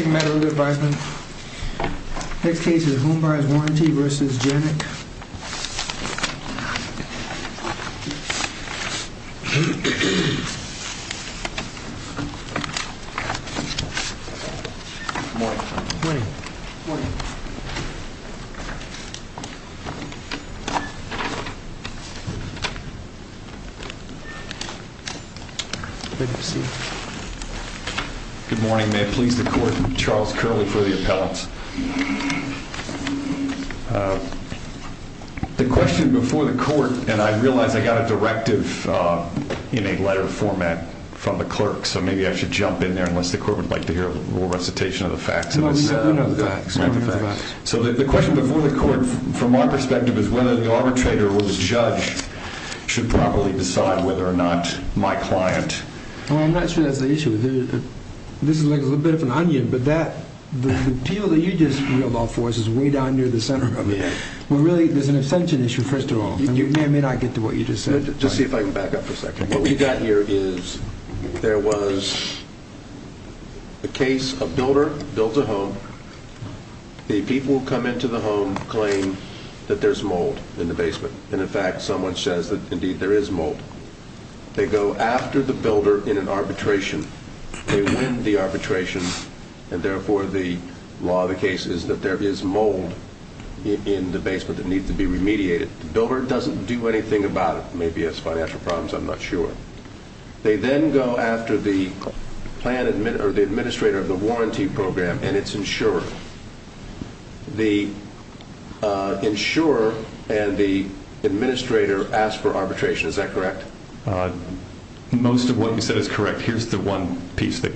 The next case is Homebuyers v. Janneck The next case is Homebuyers v. Janneck Good morning. May it please the court, Charles Curley for the appellants. The question before the court, and I realize I got a directive in a letter format from the clerk, so maybe I should jump in there unless the court would like to hear a little recitation of the facts. So the question before the court, from our perspective, is whether the arbitrator or the judge should properly decide whether or not my client... Well, I'm not sure that's the issue. This is like a little bit of an onion, but that the appeal that you just reeled off for us is way down near the center of it. Well, really there's an assumption issue, first of all, and you may or may not get to what you just said. Just see if I can back up for a second. What we've got here is there was a case, a builder built a home. The people who come into the home claim that there's mold in the basement. And in fact, someone says that indeed there is mold. They go after the builder in an arbitration. They win the arbitration, and therefore the law of the case is that there is mold in the basement that needs to be remediated. The builder doesn't do anything about it. Maybe it's financial problems. I'm not sure. They then go after the administrator of the warranty program and its insurer. The insurer and the administrator ask for arbitration. Is that correct? Most of what you said is correct. Here's the one piece. They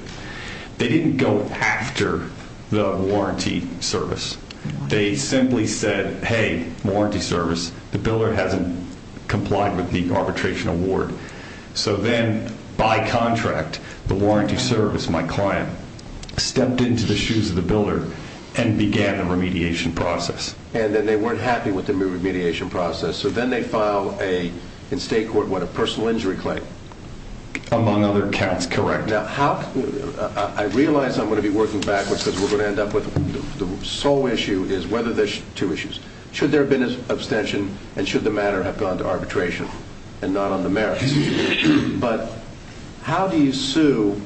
didn't go after the warranty service. They simply said, hey, warranty service. The builder hasn't complied with the arbitration award. So then, by contract, the warranty service, my client, stepped into the shoes of the builder and began the remediation process. And then they weren't happy with the remediation process. So then they file a, in state court, what, a personal injury claim? Among other counts, correct. Now, how, I realize I'm going to be working backwards because we're going to end up with the sole issue is whether there's two issues. Should there have been an abstention and should the matter have gone to arbitration and not on the merits? But how do you sue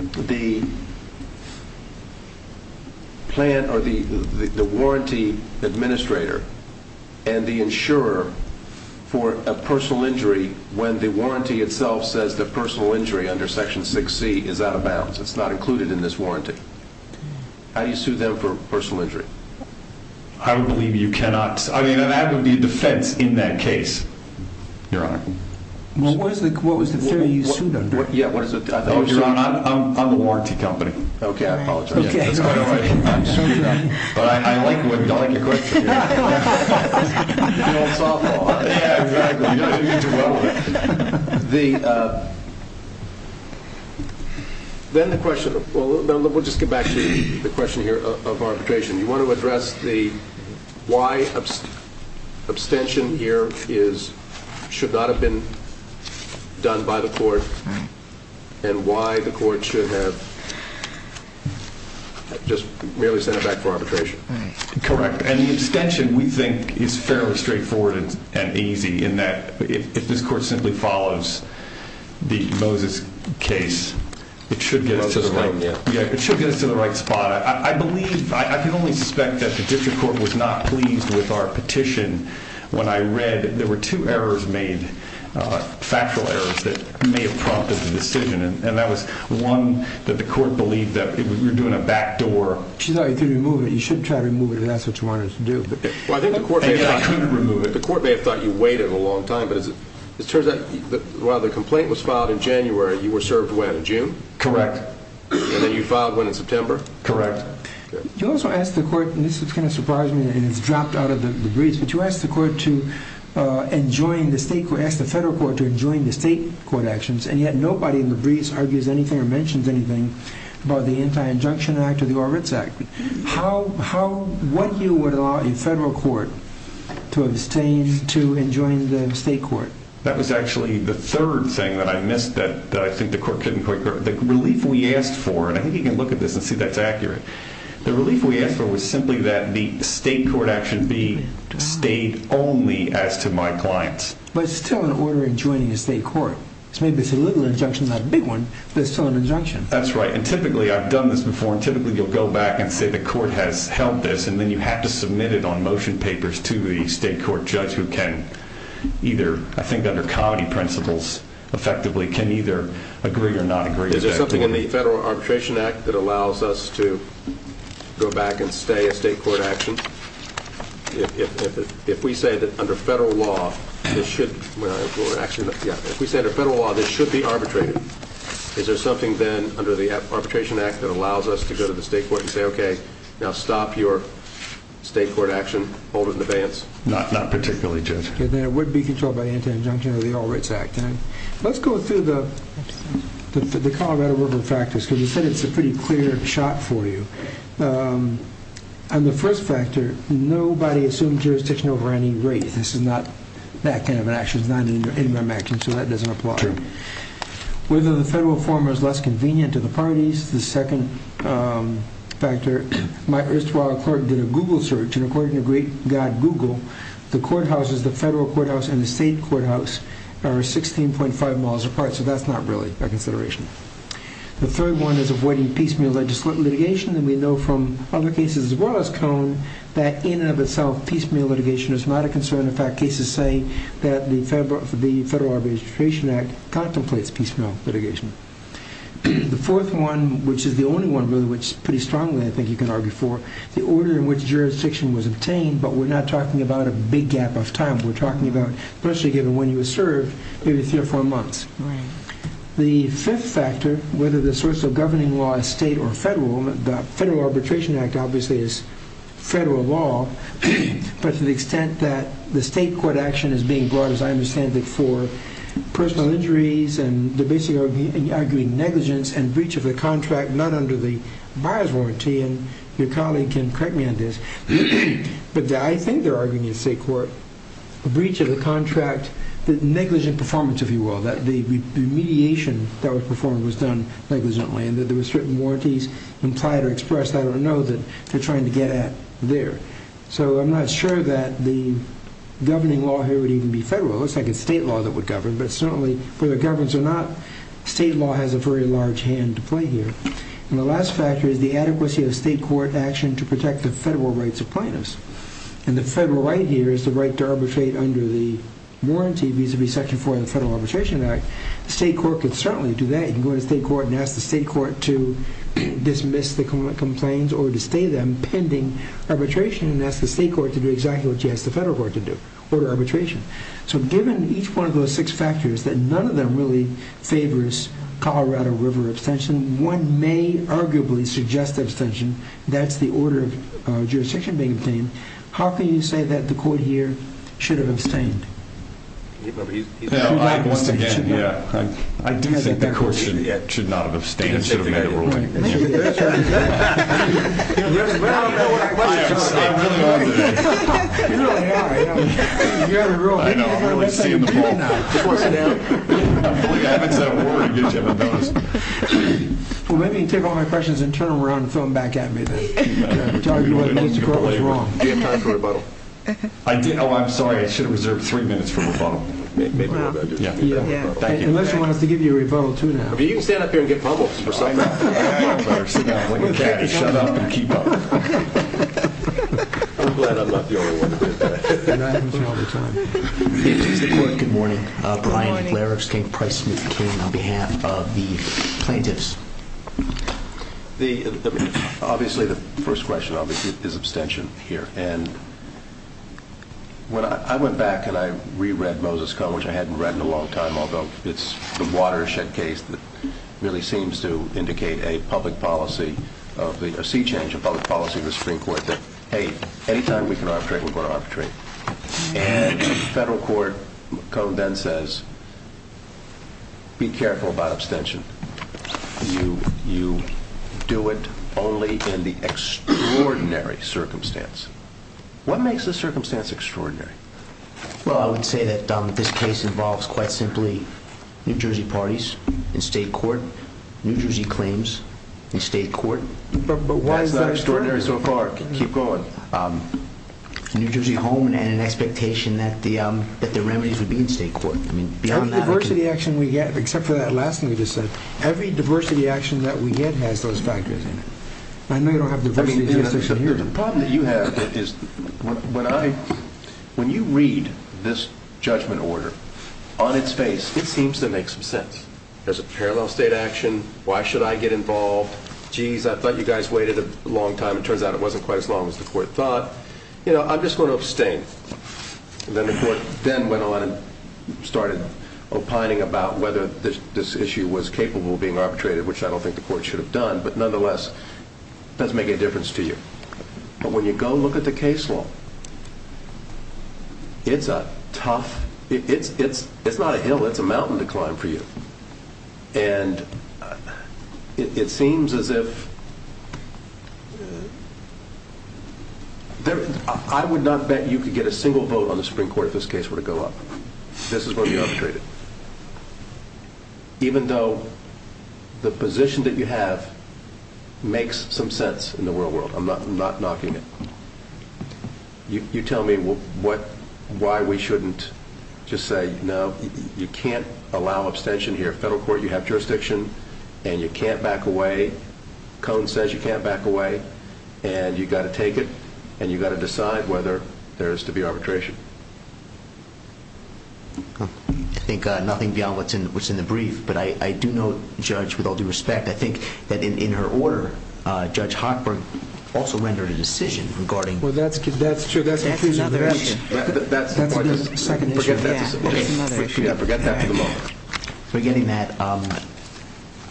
the plan or the warranty administrator and the insurer for a personal injury when the warranty itself says that personal injury under Section 6C is out of bounds? It's not included in this warranty. How do you sue them for personal injury? I would believe you cannot. I mean, that would be a defense in that case, Your Honor. Well, what is the, what was the theory you sued under? Yeah, what is it? Oh, Your Honor, I'm, I'm, I'm the warranty company. Okay, I apologize. Okay. That's quite all right. I'm screwed up. But I, I like what, don't like your question. The old softball, huh? Yeah, exactly. The, then the question, we'll just get back to the question here of arbitration. You want to address the why abstention here is, should not have been done by the court and why the court should have just merely sent it back for arbitration. Correct. And the abstention we think is fairly straightforward and easy in that if this court simply follows the Moses case, it should get us to the right spot. I believe, I can only suspect that the district court was not pleased with our petition. When I read it, there were two errors made, factual errors that may have prompted the decision. And that was one that the court believed that we were doing a backdoor. She thought you could remove it. You shouldn't try to remove it if that's what you want us to do. Well, I think the court may have thought you could remove it. The court may have thought you waited a long time, but as it turns out, while the complaint was filed in January, you were served when? In June? Correct. And then you filed when? In September? Correct. Okay. You also asked the court, and this is kind of surprising and it's dropped out of the briefs, but you asked the court to enjoin the state court, ask the federal court to enjoin the state court actions. And yet nobody in the briefs argues anything or mentions anything about the Anti-Injunction Act or the Orbitz Act. What year would allow a federal court to abstain to enjoin the state court? That was actually the third thing that I missed that I think the court couldn't quite... The relief we asked for, and I think you can look at this and see that's accurate. The relief we asked for was simply that the state court action be state only as to my clients. But it's still an order in joining a state court. So maybe it's a little injunction, not a big one, but it's still an injunction. That's right. And typically, I've done this before, and typically you'll go back and say the court has held this, and then you have to submit it on motion papers to the state court judge who can either, I think under comedy principles, effectively can either agree or not agree. Is there something in the Federal Arbitration Act that allows us to go back and stay a state court action? If we say that under federal law, this should... Actually, yeah. If we say that under federal law, this should be arbitrated. Is there something then under the Arbitration Act that allows us to go to the state court and say, okay, now stop your state court action, hold it in abeyance? Not particularly, Judge. Okay, then it would be controlled by the anti-injunction of the All Rights Act. Let's go through the Colorado River factors, because you said it's a pretty clear shot for you. On the first factor, nobody assumed jurisdiction over any race. This is not that kind of an action. It's not an interim action, so that doesn't apply. Whether the federal form is less convenient to the parties, the second factor, my erstwhile court did a Google search, and according to great God Google, the courthouses, the federal courthouse and the state courthouse, are 16.5 miles apart, so that's not really a consideration. The third one is avoiding piecemeal litigation, and we know from other cases as well as Cohen that in and of itself, piecemeal litigation is not a concern. In fact, cases say that the Federal Arbitration Act contemplates piecemeal litigation. The fourth one, which is the only one really, which pretty strongly I think you can argue for, the order in which jurisdiction was obtained, but we're not talking about a big gap of time. We're talking about, especially given when you were served, maybe three or four months. The fifth factor, whether the source of governing law is state or federal, the Federal Arbitration Act obviously is federal law, but to the extent that the state court action is being brought up, as I understand it, for personal injuries and they're basically arguing negligence and breach of the contract, not under the buyer's warranty, and your colleague can correct me on this, but I think they're arguing in state court, a breach of the contract, that negligent performance, if you will, that the mediation that was performed was done negligently and that there were certain warranties implied or expressed, I don't know, that they're trying to get at there. So I'm not sure that the governing law here would even be federal. It looks like it's state law that would govern, but certainly for the governance or not, state law has a very large hand to play here. And the last factor is the adequacy of state court action to protect the federal rights of plaintiffs. And the federal right here is the right to arbitrate under the warranty vis-a-vis Section 4 of the Federal Arbitration Act. State court could certainly do that. You can go to state court and ask the state court to dismiss the complaints or to stay them pending arbitration and ask the state court to do exactly what you ask the federal court to do, order arbitration. So given each one of those six factors, that none of them really favors Colorado River abstention, one may arguably suggest abstention. That's the order of jurisdiction being obtained. How can you say that the court here should have abstained? Once again, yeah, I do think the court should not have abstained, it should have made a decision. But I don't know what my question is. I'm really out of it. You're out of the room. I know. I'm really seeing the bull. I believe I haven't said a word. I'll give you a bonus. Well, maybe you can take all my questions and turn them around and throw them back at me then. Do you have time for a rebuttal? I did. Oh, I'm sorry. I should have reserved three minutes for a rebuttal. Maybe a rebuttal. Yeah. Yeah. Thank you. Unless he wants to give you a rebuttal too now. You can stand up here and get bubbles or something. I know. I'd rather sit down and play catch. Shut up and keep up. I'm glad I'm not the only one who did that. That happens all the time. Good morning. Brian Blair of Skate Price, McCain, on behalf of the plaintiffs. Obviously, the first question is abstention here. And when I went back and I reread Moses Cone, which I hadn't read in a long time, although it's the watershed case that really seems to indicate a public policy, a sea change of public policy in the Supreme Court that, hey, any time we can arbitrate, we're going to arbitrate. And the federal court, Cone then says, be careful about abstention. You do it only in the extraordinary circumstance. What makes the circumstance extraordinary? Well, I would say that this case involves quite simply New Jersey parties in state court, New Jersey claims in state court. But why is that extraordinary? That's not extraordinary so far. Keep going. New Jersey home and an expectation that the remedies would be in state court. I mean, beyond that. Every diversity action we get, except for that last thing you just said, every diversity action that we get has those factors in it. I know you don't have diversity justice in here. The problem that you have is when you read this judgment order, on its face, it seems to make some sense. There's a parallel state action. Why should I get involved? Geez, I thought you guys waited a long time. It turns out it wasn't quite as long as the court thought. I'm just going to abstain. Then the court then went on and started opining about whether this issue was capable of being arbitrated, which I don't think the court should have done. But nonetheless, it doesn't make any difference to you. But when you go look at the case law, it's not a hill. It's a mountain to climb for you. And it seems as if... I would not bet you could get a single vote on the Supreme Court if this case were to go up. This is going to be arbitrated. Even though the position that you have makes some sense in the real world. I'm not knocking it. You tell me why we shouldn't just say, no, you can't allow abstention here. Federal court, you have jurisdiction. And you can't back away. Cohen says you can't back away. And you've got to take it. And you've got to decide whether there is to be arbitration. I think nothing beyond what's in the brief. But I do know, Judge, with all due respect, I think that in her order, Judge Hochberg also rendered a decision regarding... Well, that's true. That's confusing. Forgetting that,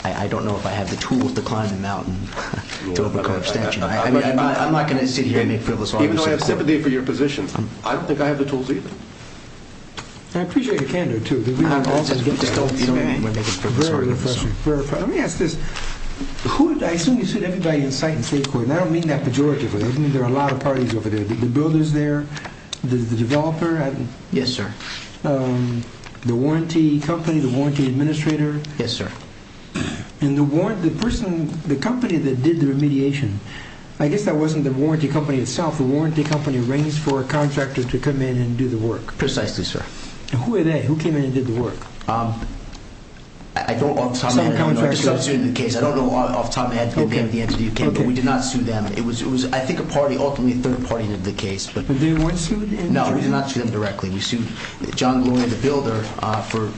I don't know if I have the tools to climb a mountain to overcome abstention. I'm not going to sit here and make Phyllis Augustine call. Even though I have sympathy for your position, I don't think I have the tools either. I appreciate your candor, too. Just don't get mad. Let me ask this. I assume you've seen everybody in sight in state court. And I don't mean that pejoratively. I mean there are a lot of parties over there. The builders there, the developer. Yes, sir. The warranty company, the warranty administrator. Yes, sir. And the person, the company that did the remediation. I guess that wasn't the warranty company itself. The warranty company arranged for a contractor to come in and do the work. Precisely, sir. And who were they? Who came in and did the work? I don't know off the top of my head. I don't know off the top of my head who came. But we did not sue them. I think a party, ultimately a third party, did the case. But they weren't sued? No, we did not sue them directly. We sued John Lloyd, the builder, for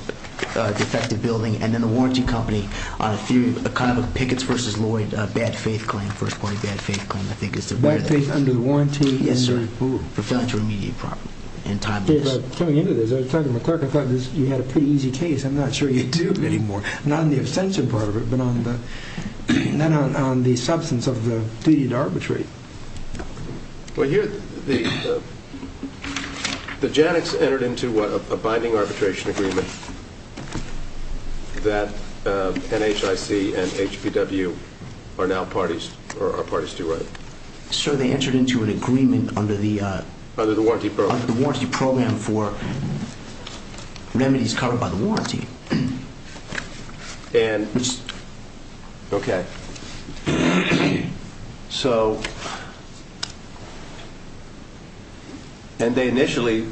defective building. And then the warranty company on a kind of a Picketts v. Lloyd bad faith claim. First party bad faith claim, I think is the better definition. Bad faith under warranty? Yes, sir. For failing to remediate properly. Coming into this, I was talking to my clerk. I thought you had a pretty easy case. I'm not sure you do anymore. Not on the abstention part of it, but on the substance of the duty to arbitrate. Well, here the Janics entered into a binding arbitration agreement that NHIC and HPW are now parties to, right? Sir, they entered into an agreement under the Under the warranty program. Under the warranty program for remedies covered by the warranty. And, okay. So, and they initially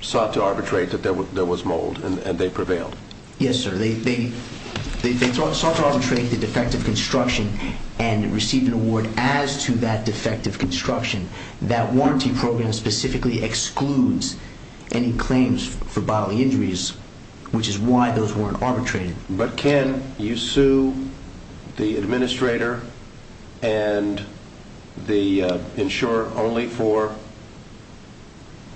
sought to arbitrate that there was mold, and they prevailed? Yes, sir. They sought to arbitrate the defective construction and received an award as to that defective construction. That warranty program specifically excludes any claims for bodily injuries, which is why those weren't arbitrated. But can you sue the administrator and the insurer only for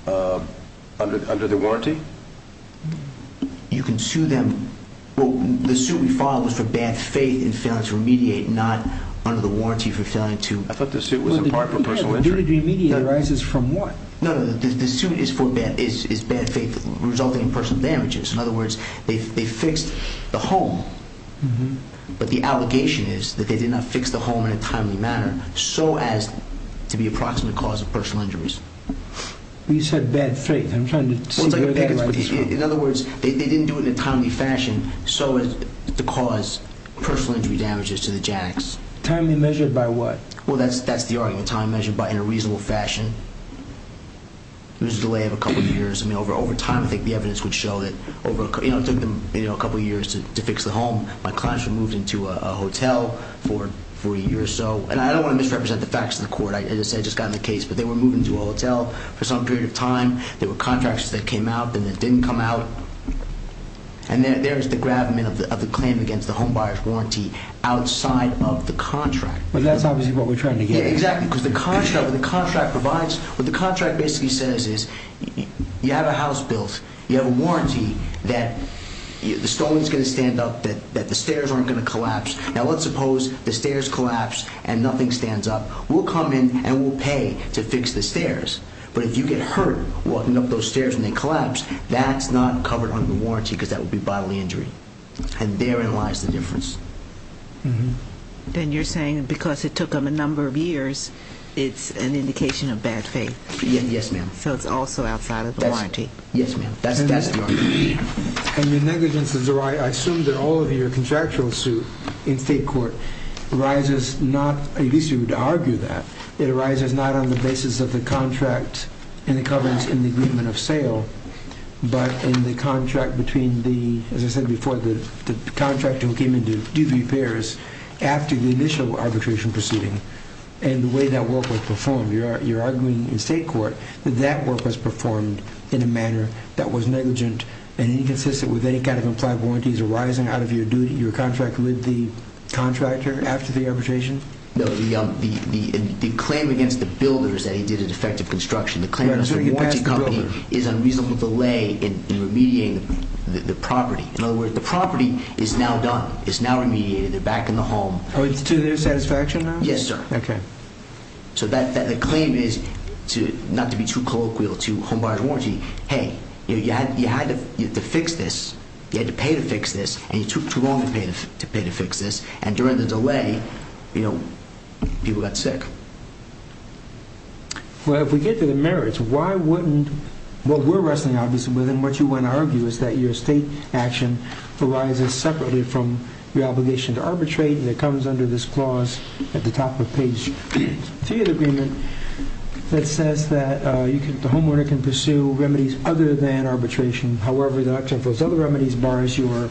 under the warranty? You can sue them. Well, the suit we filed was for bad faith in failing to remediate, not under the warranty for failing to I thought the suit was a part for personal injury. Well, the duty to remediate arises from what? No, no, no. The suit is bad faith resulting in personal damages. In other words, they fixed the home, but the allegation is that they did not fix the home in a timely manner so as to be a proximate cause of personal injuries. You said bad faith. I'm trying to see where that's coming from. In other words, they didn't do it in a timely fashion so as to cause personal injury damages to the Janics. Timely measured by what? Well, that's the argument. Timely measured in a reasonable fashion. It was a delay of a couple of years. I mean, over time, I think the evidence would show that it took them a couple of years to fix the home. My clients were moved into a hotel for 40 years or so. And I don't want to misrepresent the facts of the court. As I said, I just got in the case. But they were moved into a hotel for some period of time. There were contractors that came out and then didn't come out. And there is the gravamen of the claim against the home buyer's warranty outside of the contract. But that's obviously what we're trying to get at. Yeah, exactly. Because the contract provides... What the contract basically says is you have a house built, you have a warranty that the stone is going to stand up, that the stairs aren't going to collapse. Now, let's suppose the stairs collapse and nothing stands up. We'll come in and we'll pay to fix the stairs. But if you get hurt walking up those stairs and they collapse, that's not covered under the warranty because that would be bodily injury. And therein lies the difference. Then you're saying because it took them a number of years, it's an indication of bad faith. Yes, ma'am. So it's also outside of the warranty. Yes, ma'am. That's the argument. And the negligence is the right... I assume that all of your contractual suit in state court arises not... At least you would argue that. It arises not on the basis of the contract and the covenants in the agreement of sale, but in the contract between the, as I said before, the contractor who came in to do the repairs after the initial arbitration proceeding and the way that work was performed. You're arguing in state court that that work was performed in a manner that was negligent and inconsistent with any kind of implied warranties arising out of your contract with the contractor after the arbitration? No, the claim against the builders that he did a defective construction, the claim against the warranty company, is unreasonable delay in remediating the property. In other words, the property is now done, it's now remediated, they're back in the home. Oh, it's to their satisfaction now? Yes, sir. Okay. So the claim is not to be too colloquial to home buyer's warranty. Hey, you had to fix this, you had to pay to fix this, and you took too long to pay to fix this, and during the delay, you know, people got sick. Well, if we get to the merits, why wouldn't what we're wrestling obviously with and what you want to argue is that your state action arises separately from your obligation to arbitrate and it comes under this clause at the top of page 3 of the agreement that says that the homeowner can pursue remedies other than arbitration. However, except for those other remedies bars your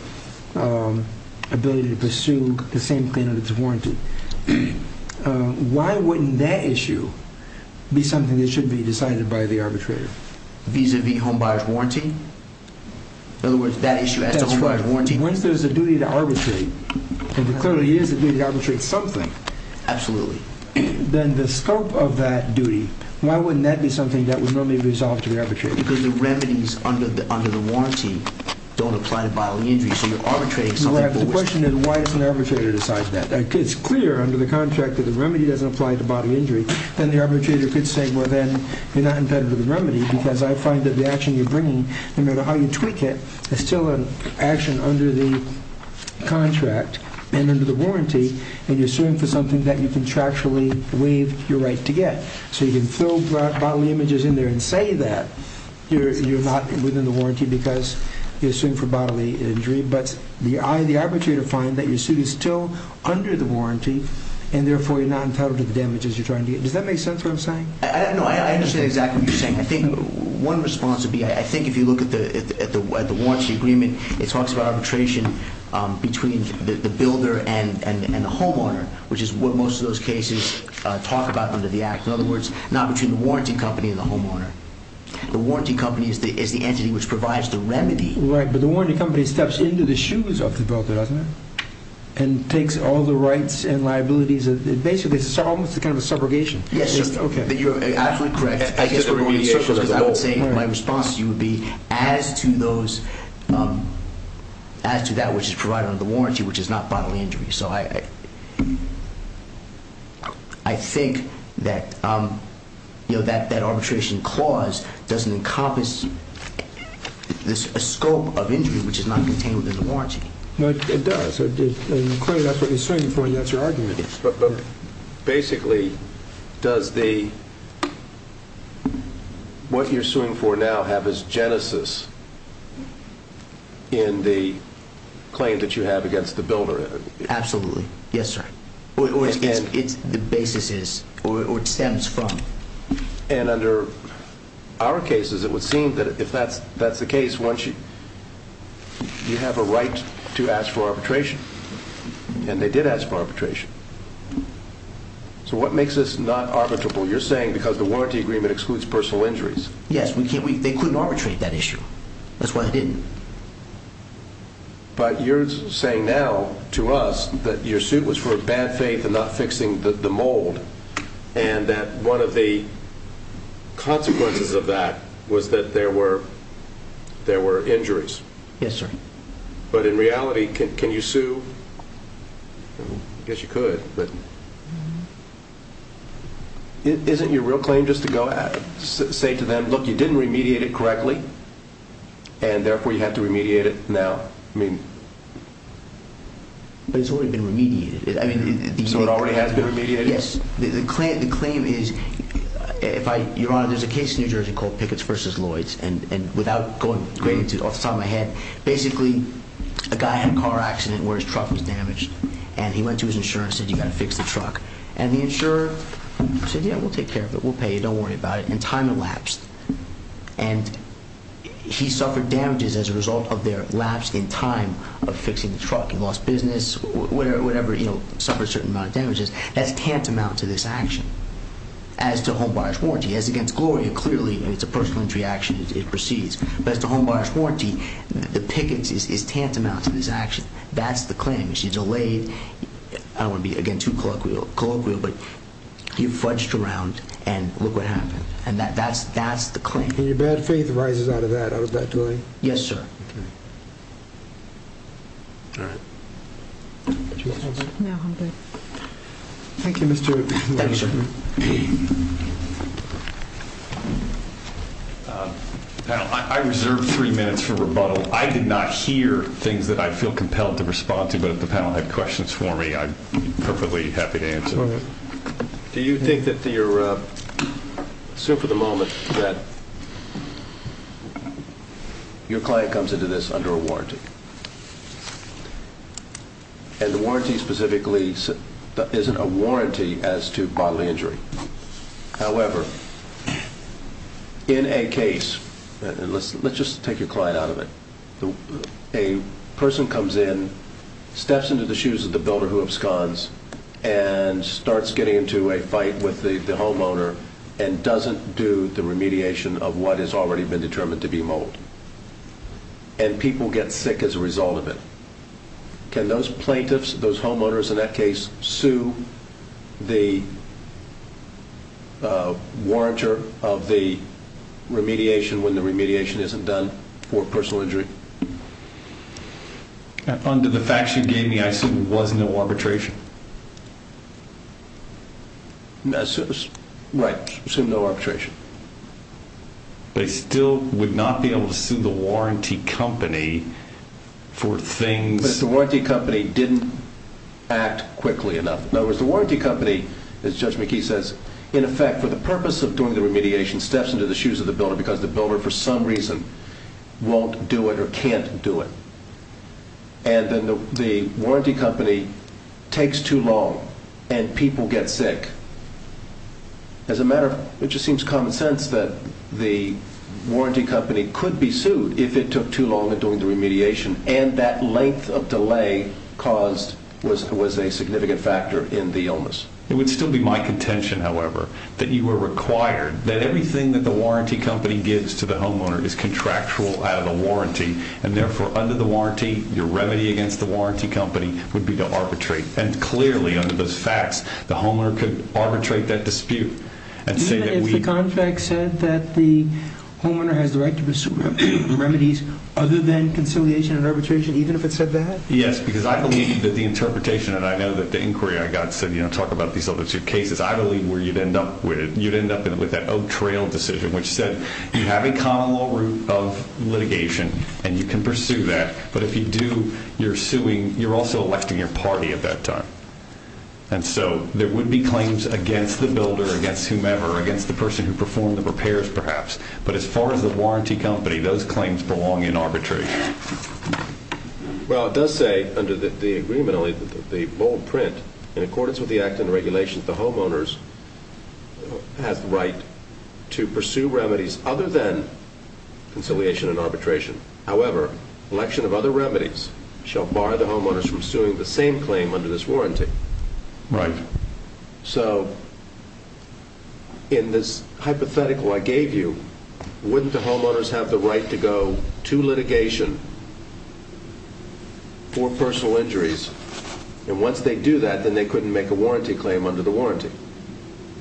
ability to pursue the same claim that's warranted. Why wouldn't that issue be something that should be decided by the arbitrator? Vis-a-vis home buyer's warranty? In other words, that issue as to home buyer's warranty? That's right. Once there's a duty to arbitrate, and there clearly is a duty to arbitrate something. Absolutely. Then the scope of that duty, why wouldn't that be something that would normally be resolved to the arbitrator? Because the remedies under the warranty don't apply to bodily injuries, so you're arbitrating something. Well, I have the question then, why doesn't the arbitrator decide that? If it's clear under the contract that the remedy doesn't apply to bodily injury, then the arbitrator could say, well then, you're not impeded with the remedy because I find that the action you're bringing, no matter how you tweak it, is still an action under the contract and under the warranty and you're suing for something that you contractually believe you're right to get. So you can fill bodily images in there and say that you're not within the warranty because you're suing for bodily injury, but the arbitrator finds that your suit is still under the warranty and therefore you're not entitled to the damages you're trying to get. Does that make sense of what I'm saying? No, I understand exactly what you're saying. I think one response would be, I think if you look at the warranty agreement, it talks about arbitration between the builder and the homeowner, which is what most of those cases talk about under the Act. In other words, not between the warranty company and the homeowner. The warranty company is the entity which provides the remedy. Right, but the warranty company steps into the shoes of the builder, doesn't it? And takes all the rights and liabilities. Basically, it's almost kind of a subrogation. Yes, sir. Okay. You're absolutely correct. I would say my response to you would be as to that which is provided under the warranty, which is not bodily injury. So I think that that arbitration clause doesn't encompass a scope of injury which is not contained within the warranty. No, it does. Clearly, that's what you're suing for and that's your argument. But basically, does what you're suing for now have as genesis in the claim that you have against the builder? Absolutely. Yes, sir. Or the basis is or stems from. And under our cases, it would seem that if that's the case, once you have a right to ask for arbitration, and they did ask for arbitration. So what makes this not arbitrable? You're saying because the warranty agreement excludes personal injuries. That's why they didn't. But you're saying now to us that your suit was for bad faith and not fixing the mold and that one of the consequences of that was that there were injuries. Yes, sir. But in reality, can you sue? I guess you could, but isn't your real claim just to say to them, look, you didn't remediate it correctly, and therefore you have to remediate it now? But it's already been remediated. So it already has been remediated? Yes. The claim is, Your Honor, there's a case in New Jersey called Pickett's v. Lloyds, and without going off the top of my head, basically a guy had a car accident where his truck was damaged, and he went to his insurer and said, you've got to fix the truck. And the insurer said, yeah, we'll take care of it, we'll pay you, don't worry about it, and time elapsed. And he suffered damages as a result of their lapse in time of fixing the truck. He lost business, whatever, you know, suffered a certain amount of damages. That's tantamount to this action as to home buyer's warranty. As against Gloria, clearly it's a personal injury action as it proceeds. But as to home buyer's warranty, the Pickett's is tantamount to this action. That's the claim. She delayed, I don't want to be, again, too colloquial, but you fudged around and look what happened. And that's the claim. And your bad faith arises out of that, out of that delay? Yes, sir. Thank you, Mr. Lloyds. Thank you, sir. Panel, I reserve three minutes for rebuttal. I did not hear things that I feel compelled to respond to, but if the panel had questions for me, I'm perfectly happy to answer them. Go ahead. Do you think that your, assume for the moment that your client comes into this under a warranty? And the warranty specifically isn't a warranty as to bodily injury. However, in a case, and let's just take your client out of it, a person comes in, steps into the shoes of the builder who absconds, and starts getting into a fight with the homeowner and doesn't do the remediation of what has already been determined to be mold. And people get sick as a result of it. Can those plaintiffs, those homeowners in that case, sue the warrantor of the remediation when the remediation isn't done for personal injury? Under the facts you gave me, I assume there was no arbitration. Right, assume no arbitration. They still would not be able to sue the warranty company for things. Assume that the warranty company didn't act quickly enough. In other words, the warranty company, as Judge McKee says, in effect, for the purpose of doing the remediation, steps into the shoes of the builder because the builder, for some reason, won't do it or can't do it. And then the warranty company takes too long and people get sick. As a matter of, it just seems common sense that the warranty company could be sued if it took too long in doing the remediation. And that length of delay caused, was a significant factor in the illness. It would still be my contention, however, that you were required, that everything that the warranty company gives to the homeowner is contractual out of the warranty. And therefore, under the warranty, your remedy against the warranty company would be to arbitrate. And clearly, under those facts, the homeowner could arbitrate that dispute. Even if the contract said that the homeowner has the right to pursue remedies other than conciliation and arbitration, even if it said that? Yes, because I believe that the interpretation, and I know that the inquiry I got said, you know, talk about these other two cases. I believe where you'd end up with, you'd end up with that Oak Trail decision, which said you have a common law route of litigation and you can pursue that. But if you do, you're suing, you're also electing your party at that time. And so, there would be claims against the builder, against whomever, against the person who performed the repairs, perhaps. But as far as the warranty company, those claims belong in arbitration. Well, it does say, under the agreementally, the bold print, in accordance with the Act and regulations, the homeowners has the right to pursue remedies other than conciliation and arbitration. However, election of other remedies shall bar the homeowners from suing the same claim under this warranty. Right. So, in this hypothetical I gave you, wouldn't the homeowners have the right to go to litigation for personal injuries? And once they do that, then they couldn't make a warranty claim under the warranty.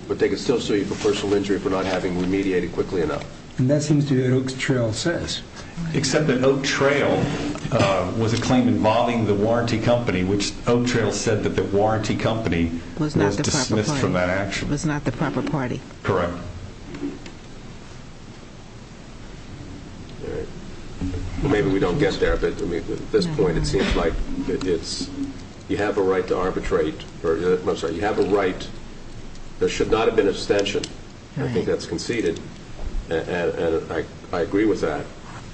But they could still sue you for personal injury for not having remediated quickly enough. And that seems to be what Oak Trail says. Except that Oak Trail was a claim involving the warranty company, which Oak Trail said that the warranty company was dismissed from that action. Was not the proper party. Correct. Maybe we don't get there. But at this point, it seems like you have a right to arbitrate. I'm sorry. You have a right. There should not have been an abstention. I think that's conceded. And I agree with that.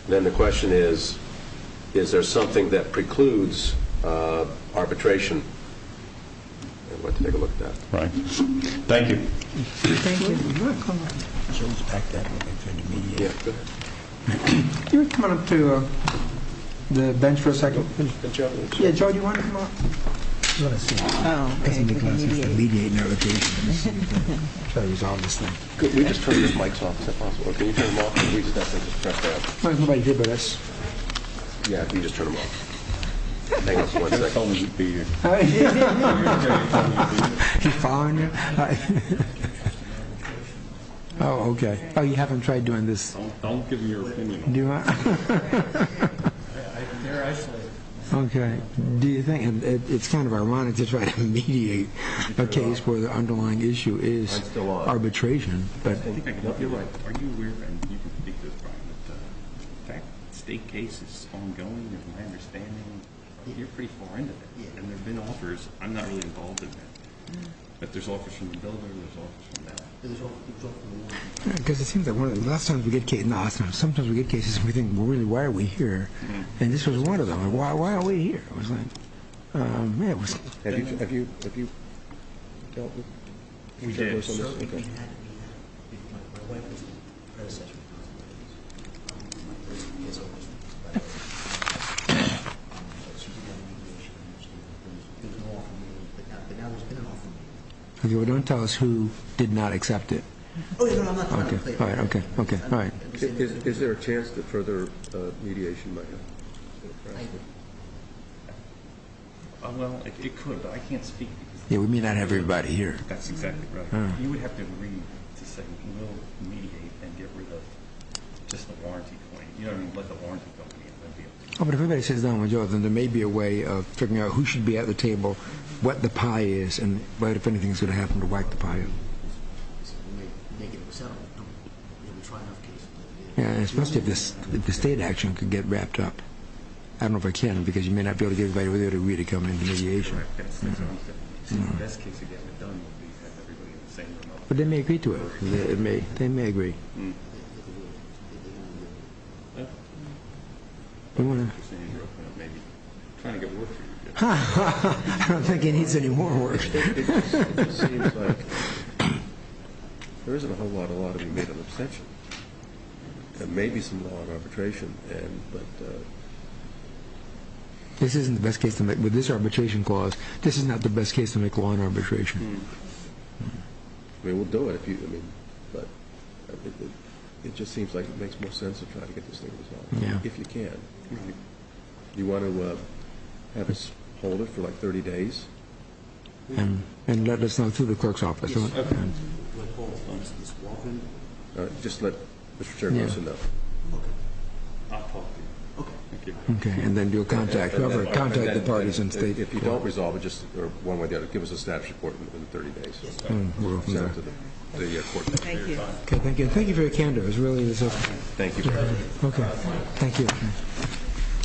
Then the question is, is there something that precludes arbitration? We'll have to take a look at that. Right. Thank you. Thank you. You're welcome. Can you come up to the bench for a second? Yeah, Joe, do you want to come up? Let's see. President Nicholson is alleviating our occasion. Let me see if I can try to resolve this thing. Could we just turn the mics off, is that possible? I don't think anybody did, but that's. Yeah, you can just turn them off. Hang on for one second. He's following you. Oh, okay. Oh, you haven't tried doing this. Don't give me your opinion. Do I? They're isolated. Okay. Do you think, and it's kind of ironic to try to mediate a case where the underlying issue is arbitration. I think I can help you with that. Are you aware, and you can speak to this, Brian, that the state case is ongoing, is my understanding. You're pretty far into it. And there have been offers. I'm not really involved in that. But there's offers from the governor, there's offers from that. And there's offers from the law. Because it seems like a lot of times we get cases and we think, well, really, why are we here? And this was one of them. Why are we here? I was like, oh, man. Have you dealt with this? Don't tell us who did not accept it. Okay. All right. Okay. All right. Is there a chance that further mediation might happen? I agree. Well, it could, but I can't speak. Yeah, we may not have everybody here. That's exactly right. You would have to agree to say we will mediate and get rid of just the warranty claim. You know what I mean? Let the warranty company in. Oh, but if everybody sits down with Joe, then there may be a way of figuring out who should be at the table, what the pie is, and what, if anything, is going to happen to wipe the pie out. Make it a settlement. We haven't tried enough cases. Yeah, especially if the state action could get wrapped up. I don't know if it can because you may not be able to get everybody over there to really come into mediation. That's right. That's the best case we've ever done. But they may agree to it. They may agree. I don't think it needs any more work. It just seems like there isn't a whole lot of law to be made of abstention. There may be some law in arbitration. With this arbitration clause, this is not the best case to make law in arbitration. We'll do it. It just seems like it makes more sense to try to get this thing resolved, if you can. Do you want to have us hold it for, like, 30 days? And let us know through the clerk's office. Just let Mr. Chairperson know. Okay, and then do a contact. Whoever, contact the parties in state. If you don't resolve it, just one way or the other, give us a staff report within 30 days. Thank you. Thank you for your candor. Thank you. Okay, thank you.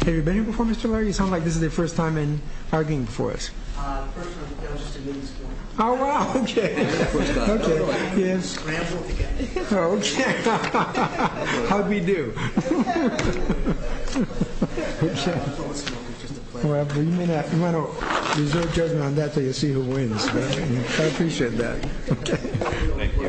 Have you been here before, Mr. Lowery? You sound like this is your first time in our game before us. First time, I was just a miniskirt. Oh, wow, okay. Scrambled together. Okay. How did we do? You might want to reserve judgment on that until you see who wins. I appreciate that. Okay.